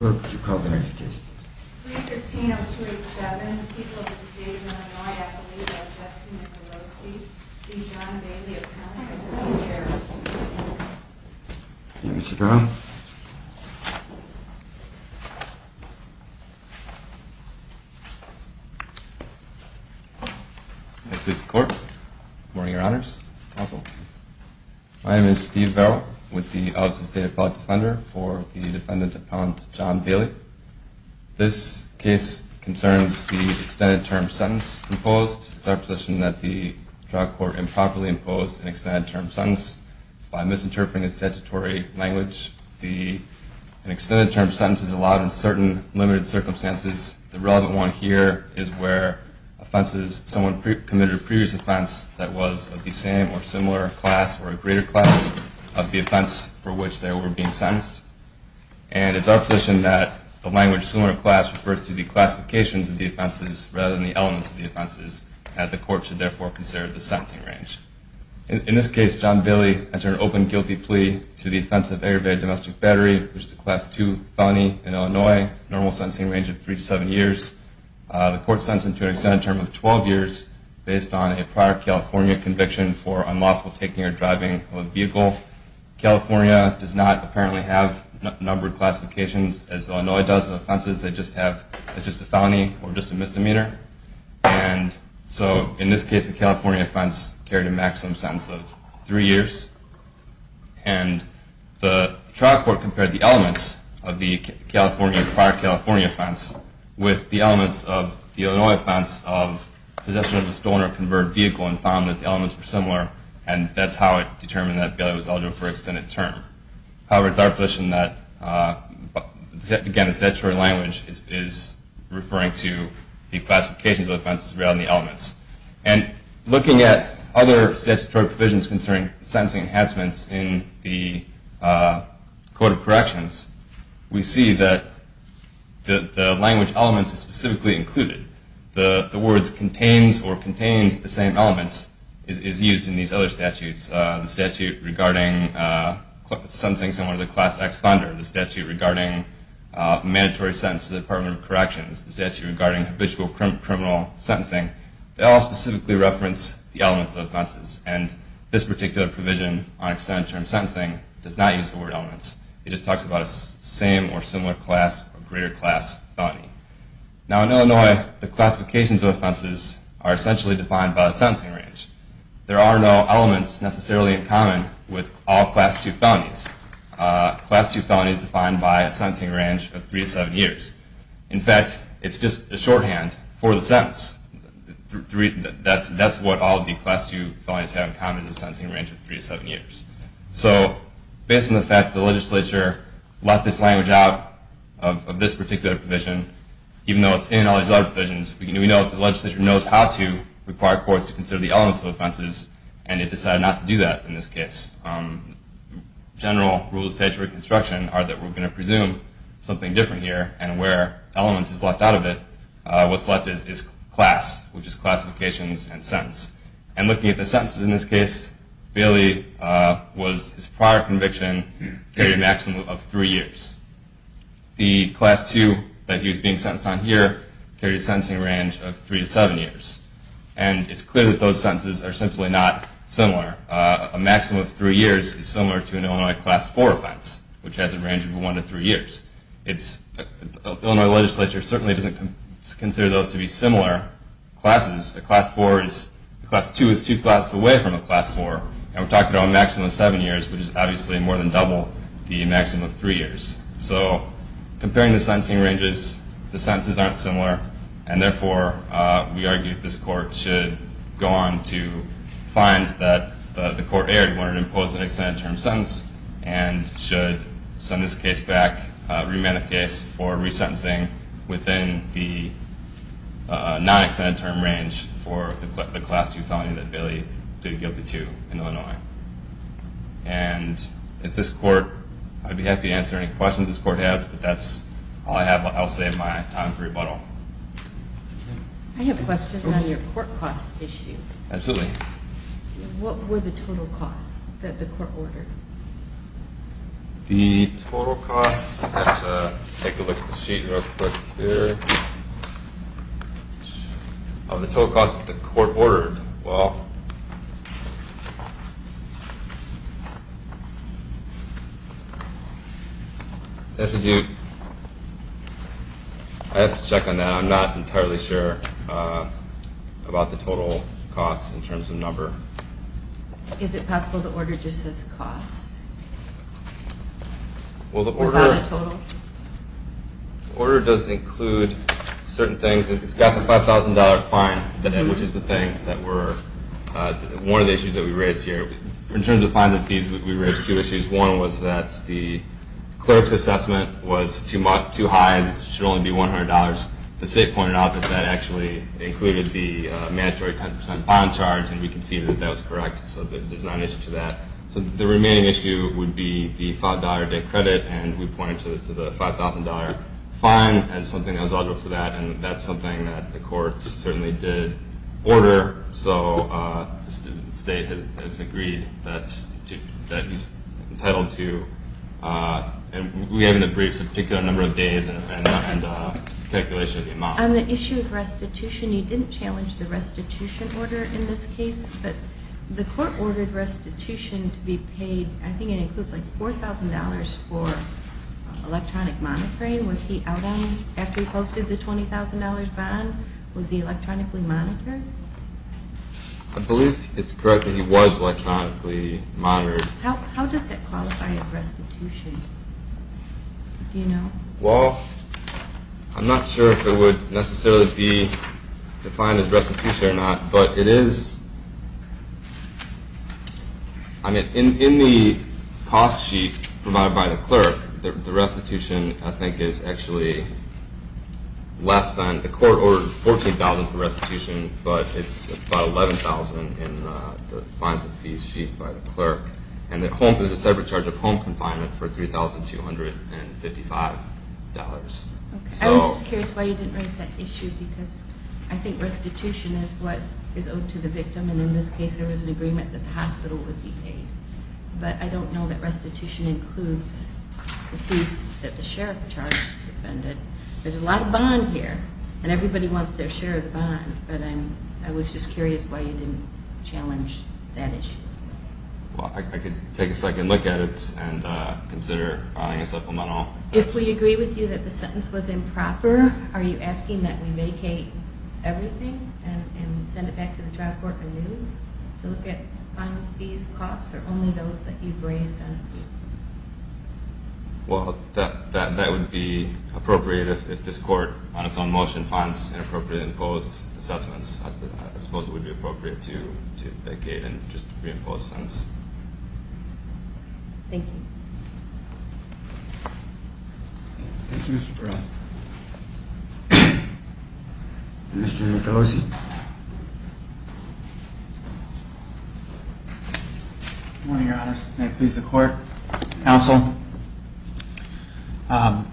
What would you call the next case? 3-15-0287, the people of the state of Illinois, I believe, are Justin and Pelosi v. John Bailey, appellant v. Steve Barrow. Thank you, Mr. Brown. My name is Steve Barrow, with the Office of State Appellate Defender for the defendant appellant John Bailey. This case concerns the extended term sentence imposed. It's our position that the trial court improperly imposed an extended term sentence by misinterpreting its statutory language. An extended term sentence is allowed in certain limited circumstances. The relevant one here is where someone committed a previous offense that was of the same or similar class or a greater class of the offense for which they were being sentenced. And it's our position that the language similar class refers to the classifications of the offenses rather than the elements of the offenses, and the court should therefore consider the sentencing range. In this case, John Bailey entered an open guilty plea to the offense of aggravated domestic battery, which is a class 2 felony in Illinois, normal sentencing range of 3-7 years. The court sentenced him to an extended term of 12 years based on a prior California conviction for unlawful taking or driving of a vehicle. California does not apparently have a number of classifications as Illinois does of offenses that just have a felony or a misdemeanor. And so in this case, the California offense carried a maximum sentence of 3 years. And the trial court compared the elements of the prior California offense with the elements of the Illinois offense of possession of a stolen or converted vehicle and found that the elements were similar. And that's how it determined that Bailey was eligible for an extended term. However, it's our position that, again, the statutory language is referring to the classifications of offenses rather than the elements. And looking at other statutory provisions concerning sentencing enhancements in the Code of Corrections, we see that the language elements are specifically included. The words contains or contains the same elements is used in these other statutes. The statute regarding sentencing someone as a class X offender. The statute regarding mandatory sentence to the Department of Corrections. The statute regarding habitual criminal sentencing. They all specifically reference the elements of offenses. And this particular provision on extended term sentencing does not use the word elements. It just talks about a same or similar class or greater class felony. Now in Illinois, the classifications of offenses are essentially defined by a sentencing range. There are no elements necessarily in common with all class II felonies. Class II felonies are defined by a sentencing range of 3 to 7 years. In fact, it's just a shorthand for the sentence. That's what all the class II felonies have in common is a sentencing range of 3 to 7 years. So based on the fact that the legislature left this language out of this particular provision, even though it's in all these other provisions, we know that the legislature knows how to require courts to consider the elements of offenses and it decided not to do that in this case. General rules of statutory construction are that we're going to presume something different here and where elements is left out of it, what's left is class, which is classifications and sentence. And looking at the sentences in this case, Bailey's prior conviction carried a maximum of 3 years. The class II that he was being sentenced on here carried a sentencing range of 3 to 7 years. And it's clear that those sentences are simply not similar. A maximum of 3 years is similar to an Illinois class IV offense, which has a range of 1 to 3 years. The Illinois legislature certainly doesn't consider those to be similar classes. A class II is two classes away from a class IV, and we're talking about a maximum of 7 years, which is obviously more than double the maximum of 3 years. So comparing the sentencing ranges, the sentences aren't similar, and therefore we argue that this court should go on to find that the court erred when it imposed an extended term sentence and should send this case back, remand the case for resentencing within the non-extended term range for the class II felony that Bailey did guilty to in Illinois. And at this court, I'd be happy to answer any questions this court has, but that's all I have. I'll save my time for rebuttal. I have questions on your court costs issue. Absolutely. What were the total costs that the court ordered? The total costs? I'll have to take a look at the sheet real quick here. Oh, the total costs that the court ordered. Well... I have to check on that. I'm not entirely sure about the total costs in terms of number. Is it possible the order just says costs? Well, the order... Is that a total? The order doesn't include certain things. It's got the $5,000 fine, which is the thing that we're... One of the issues that we raised here... In terms of fine and fees, we raised two issues. One was that the clerk's assessment was too high and it should only be $100. The state pointed out that that actually included the mandatory 10% bond charge, and we conceded that that was correct, so there's not an issue to that. The remaining issue would be the $5 day credit, and we pointed to the $5,000 fine as something that was eligible for that, and that's something that the court certainly did order, so the state has agreed that he's entitled to. We have in the briefs a particular number of days and a calculation of the amount. On the issue of restitution, you didn't challenge the restitution order in this case, but the court ordered restitution to be paid. I think it includes like $4,000 for electronic monitoring. Was he out on it after he posted the $20,000 bond? Was he electronically monitored? I believe it's correct that he was electronically monitored. How does that qualify as restitution? Do you know? Well, I'm not sure if it would necessarily be defined as restitution or not, but it is. In the cost sheet provided by the clerk, the restitution I think is actually less than. The court ordered $14,000 for restitution, but it's about $11,000 in the fines and fees sheet by the clerk, and the separate charge of home confinement for $3,255. I was just curious why you didn't raise that issue because I think restitution is what is owed to the victim, and in this case there was an agreement that the hospital would be paid. But I don't know that restitution includes the fees that the sheriff charged. There's a lot of bond here, and everybody wants their share of the bond, but I was just curious why you didn't challenge that issue. Well, I could take a second look at it and consider filing a supplemental. If we agree with you that the sentence was improper, are you asking that we vacate everything and send it back to the trial court anew to look at fines, fees, costs, or only those that you've raised on appeal? Well, that would be appropriate if this court, on its own motion, finds inappropriately imposed assessments. I suppose it would be appropriate to vacate and just reimpose sentence. Thank you. Thank you, Mr. Burrell. Mr. Nicolosi. Good morning, Your Honor. May it please the Court, Counsel. Your Honor,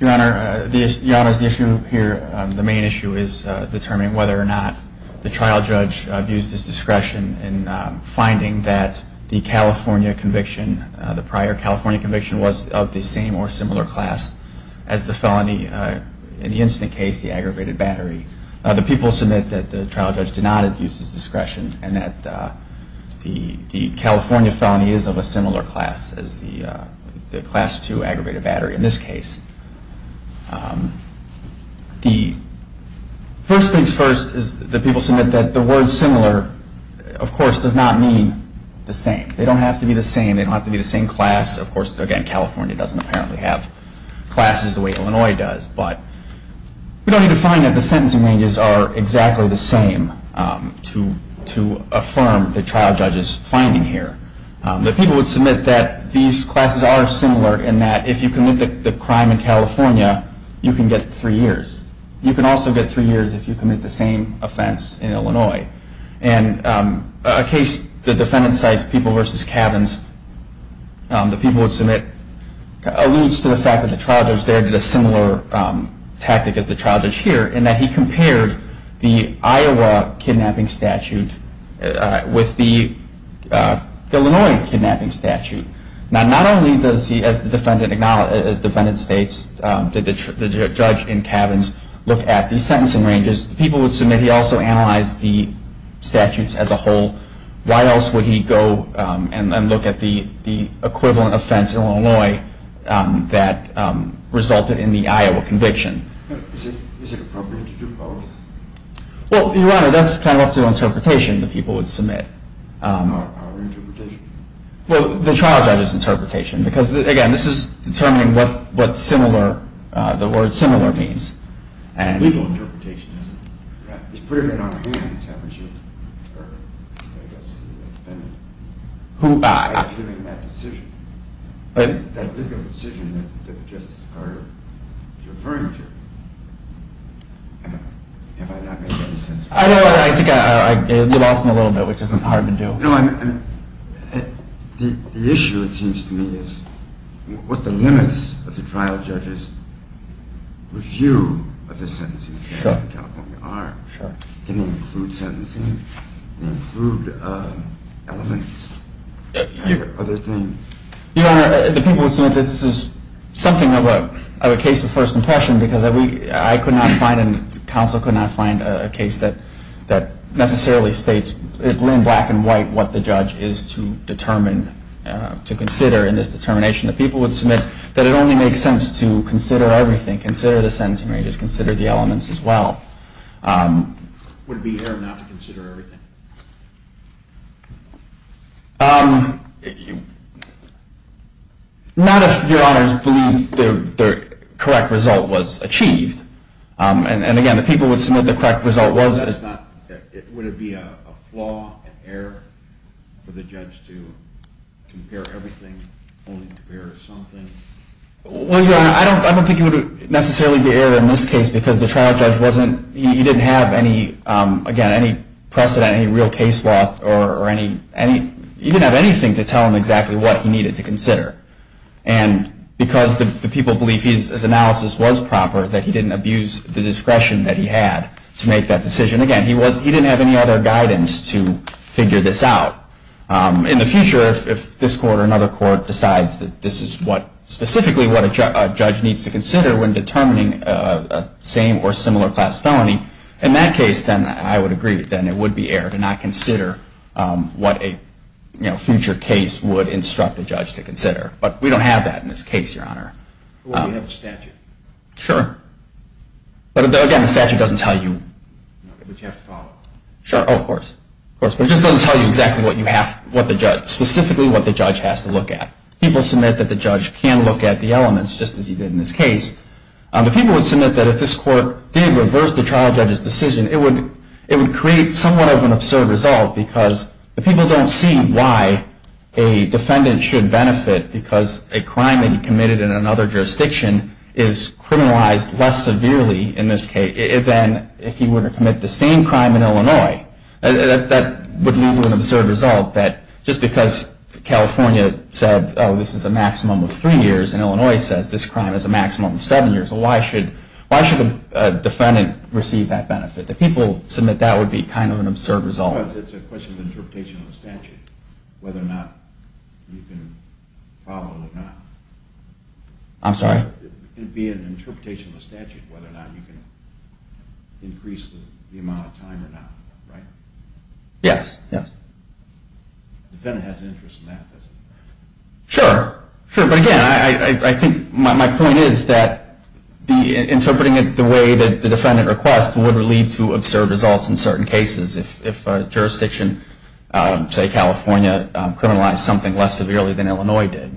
Your Honor, the issue here, the main issue, is determining whether or not the trial judge abused his discretion in finding that the California conviction, the prior California conviction, was of the same or similar class as the felony in the incident case, the aggravated battery. The people submit that the trial judge did not abuse his discretion and that the California felony is of a similar class. The first thing's first is that people submit that the word similar, of course, does not mean the same. They don't have to be the same. They don't have to be the same class. Of course, again, California doesn't apparently have classes the way Illinois does. But we don't need to find that the sentencing ranges are exactly the same to affirm the trial judge's finding here. The people would submit that the California conviction was of the same class and that these classes are similar in that if you commit the crime in California, you can get three years. You can also get three years if you commit the same offense in Illinois. And a case, the defendant cites People v. Cabins, the people would submit alludes to the fact that the trial judge there did a similar tactic as the trial judge here in that he compared the Iowa kidnapping statute with the Illinois kidnapping statute. Now, not only does he, as the defendant states, did the judge in Cabins look at the sentencing ranges, the people would submit he also analyzed the statutes as a whole. Why else would he go and look at the equivalent offense in Illinois that resulted in the Iowa conviction? Is it appropriate to do both? Well, Your Honor, that's kind of up to interpretation the people would submit. Our interpretation? Well, the trial judge's interpretation because, again, this is determining what similar, the word similar means. Legal interpretation, isn't it? He's putting it on our hands, haven't you? By giving that decision. That legal decision that Justice Carter is referring to. Have I not made any sense? I don't know. I think you lost me a little bit, which is hard to do. The issue, it seems to me, is what the limits of the trial judge's review of the sentencing statute in California are. Can they include sentencing? Can they include elements? Your Honor, the people would submit that this is something of a case of first impression because I could not find, and counsel could not find, a case that necessarily states in black and white what the judge is to determine, to consider in this determination. The people would submit that it only makes sense to consider everything, consider the sentencing ranges, consider the elements as well. Would it be error not to consider everything? Not if, Your Honors, believe the correct result was achieved. And again, the people would submit the correct result was. Would it be a flaw, an error, for the judge to compare everything, only compare something? Well, Your Honor, I don't think it would necessarily be error in this case because the trial judge didn't have any precedent, any real case law, or he didn't have anything to tell him exactly what he needed to consider. And because the people believe his analysis was proper, that he didn't abuse the discretion that he had to make that decision, again, he didn't have any other guidance to figure this out. In the future, if this court or another court decides that this is specifically what a judge needs to consider when determining a same or similar class felony, in that case, then I would agree. Then it would be error to not consider what a future case would instruct the judge to consider. But we don't have that in this case, Your Honor. Well, we have the statute. Sure. But again, the statute doesn't tell you. But you have to follow it. Sure. Oh, of course. Of course. But it just doesn't tell you exactly what the judge, specifically what the judge has to look at. People submit that the judge can look at the elements, just as he did in this case. The people would submit that if this court did reverse the trial judge's decision, it would create somewhat of an absurd result because the people don't see why a defendant should benefit because a crime that he committed in another jurisdiction is criminalized less severely in this case than if he were to commit the same crime in Illinois. That would lead to an absurd result that just because California said, oh, this is a maximum of three years and Illinois says this crime is a maximum of seven years, why should a defendant receive that benefit? The people submit that would be kind of an absurd result. It's a question of interpretation of the statute, whether or not you can follow it or not. I'm sorry? It would be an interpretation of the statute whether or not you can increase the amount of time or not, right? Yes. Yes. The defendant has an interest in that, doesn't he? Sure. Sure, but again, I think my point is that interpreting it the way that the defendant requests would lead to absurd results in certain cases if a jurisdiction, say California, criminalized something less severely than Illinois did.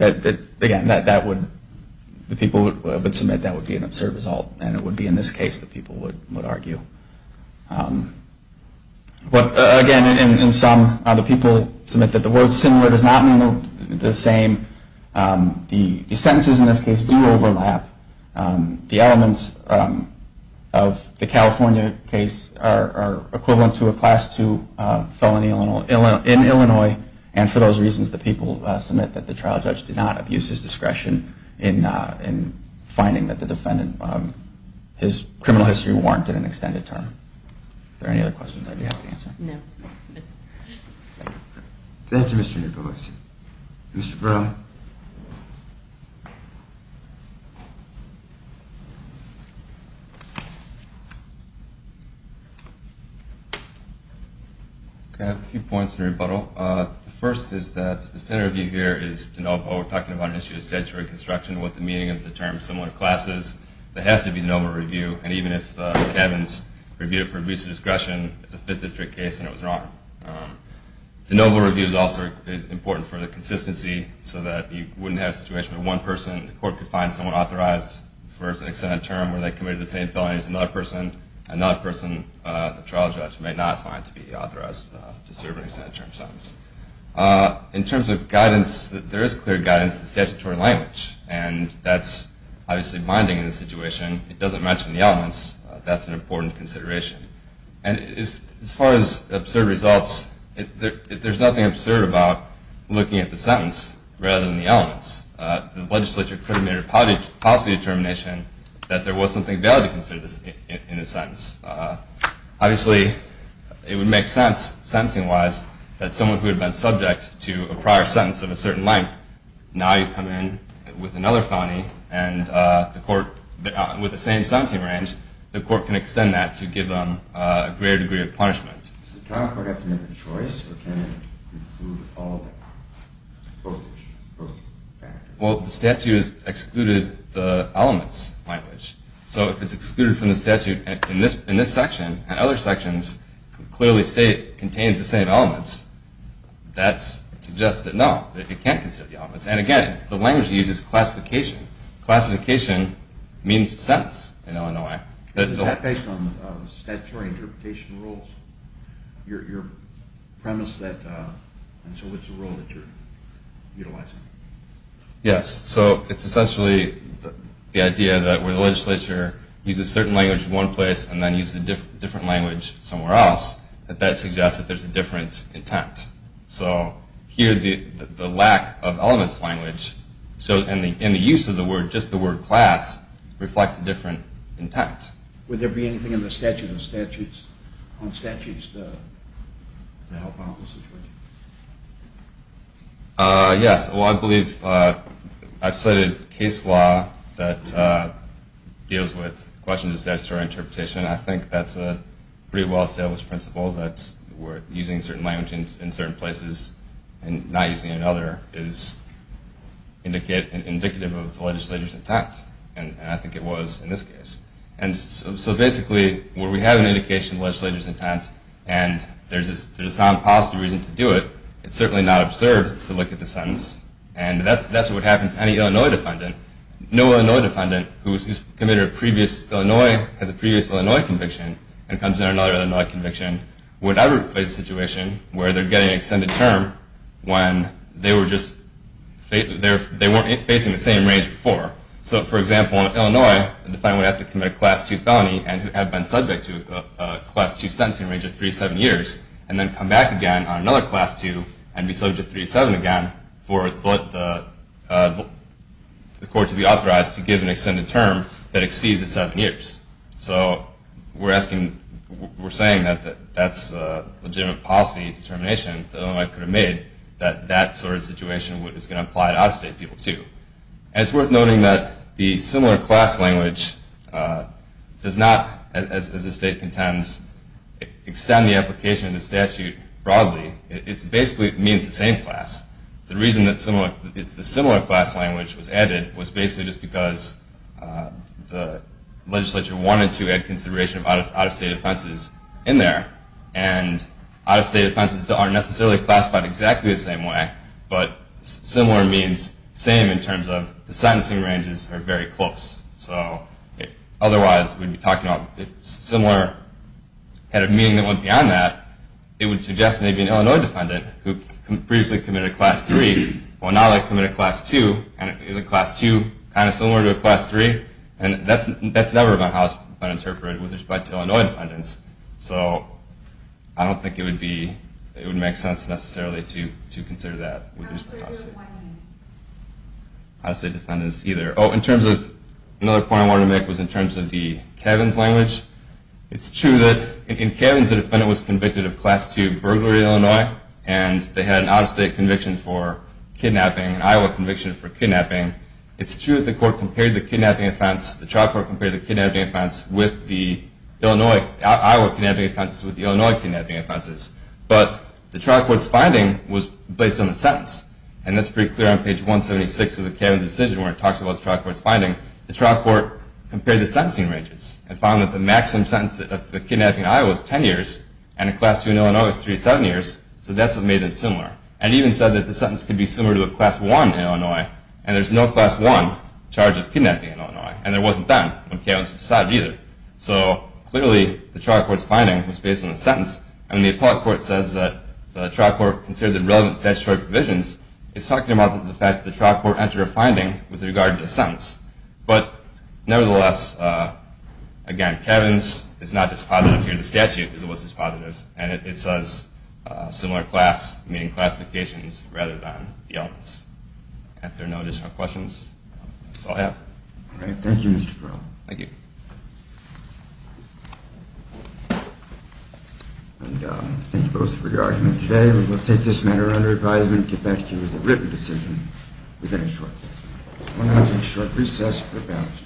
Again, the people would submit that would be an absurd result and it would be in this case that people would argue. But again, in sum, the people submit that the word similar does not mean the same. The sentences in this case do overlap. The elements of the California case are equivalent to a Class II felony in Illinois and for those reasons, the people submit that the trial judge did not abuse his discretion in finding that the defendant, his criminal history warranted an extended term. Are there any other questions I'd be happy to answer? No. Thank you, Mr. Nicholas. Mr. Brown? I have a few points to rebuttal. The first is that the standard review here is de novo. We're talking about an issue of statutory construction and what the meaning of the term similar class is. There has to be a de novo review and even if Kevin's reviewed it for abuse of discretion, it's a Fifth District case and it was wrong. De novo review is also important for the consistency so that you wouldn't have a situation where one person in the court could find someone authorized for an extended term where they committed the same felony as another person and another person the trial judge may not find to be authorized to serve an extended term sentence. In terms of guidance, there is clear guidance in the statutory language and that's obviously binding in this situation. It doesn't mention the elements. That's an important consideration. As far as absurd results, there's nothing absurd about looking at the sentence rather than the elements. The legislature could have made a policy determination that there was something valid in the sentence. Obviously, it would make sense, sentencing-wise, that someone who had been subject to a prior sentence of a certain length, now you come in with another felony with the same sentencing range, the court can extend that to give them a greater degree of punishment. Does the trial court have to make a choice or can it include all of that? Well, the statute has excluded the elements language. So if it's excluded from the statute in this section and other sections that clearly state it contains the same elements, that suggests that no, it can't consider the elements. And again, the language uses classification. Classification means the sentence in Illinois. Is that based on statutory interpretation rules? Your premise that, and so what's the rule that you're utilizing? Yes, so it's essentially the idea that when the legislature uses certain language in one place and then uses a different language somewhere else, that that suggests that there's a different intent. So here the lack of elements language, and the use of the word, just the word class, reflects a different intent. Would there be anything in the statute of statutes, on statutes, to help out in this situation? Yes, well I believe I've cited case law that deals with questions of statutory interpretation. I think that's a pretty well-established principle that using certain language in certain places and not using another is indicative of the legislator's intent. And I think it was in this case. And so basically, where we have an indication of the legislator's intent, and there's a sound policy reason to do it, it's certainly not absurd to look at the sentence. And that's what would happen to any Illinois defendant. No Illinois defendant who's committed a previous Illinois, has a previous Illinois conviction, and comes in on another Illinois conviction, would ever face a situation where they're getting an extended term when they weren't facing the same range before. So for example, in Illinois, a defendant would have to commit a class 2 felony and have been subject to a class 2 sentencing range of 3 to 7 years, and then come back again on another class 2 and be subject to 3 to 7 again for the court to be authorized to give an extended term that exceeds the 7 years. So we're saying that that's a legitimate policy determination that Illinois could have made, that that sort of situation is going to apply to out-of-state people too. And it's worth noting that the similar class language does not, as the state contends, extend the application of the statute broadly. It basically means the same class. The reason that the similar class language was added was basically just because the legislature wanted to add consideration of out-of-state offenses in there. And out-of-state offenses aren't necessarily classified exactly the same way, but similar means same in terms of the sentencing ranges are very close. So otherwise, we'd be talking about similar, had a meaning that went beyond that, it would suggest maybe an Illinois defendant who previously committed a class 3 will now commit a class 2, and it's similar to a class 3, and that's never been interpreted with respect to Illinois defendants. So I don't think it would make sense necessarily to consider that. Out-of-state defendants either. Oh, another point I wanted to make was in terms of the Kavins language. It's true that in Kavins, a defendant was convicted of class 2 burglary in Illinois, and they had an out-of-state conviction for kidnapping, an Iowa conviction for kidnapping. It's true that the court compared the kidnapping offense, the trial court compared the kidnapping offense with the Illinois kidnapping offenses. But the trial court's finding was based on the sentence, and that's pretty clear on page 176 of the Kavins decision where it talks about the trial court's finding. The trial court compared the sentencing ranges and found that the maximum sentence of the kidnapping in Iowa is 10 years, and a class 2 in Illinois is 3 to 7 years, so that's what made them similar. And even said that the sentence could be similar to a class 1 in Illinois, and there's no class 1 charge of kidnapping in Illinois, and there wasn't then when Kavins was decided either. So clearly the trial court's finding was based on the sentence, and when the appellate court says that the trial court considered the relevant statutory provisions, it's talking about the fact that the trial court entered a finding with regard to the sentence. But nevertheless, again, Kavins is not dispositive here. The statute was dispositive, and it says similar class, meaning classifications, rather than the elements. If there are no additional questions, that's all I have. All right. Thank you, Mr. Perl. Thank you. And thank you both for your argument today. We will take this matter under advisement and get back to you with a written decision within a short period. I'm going to take a short recess for a moment.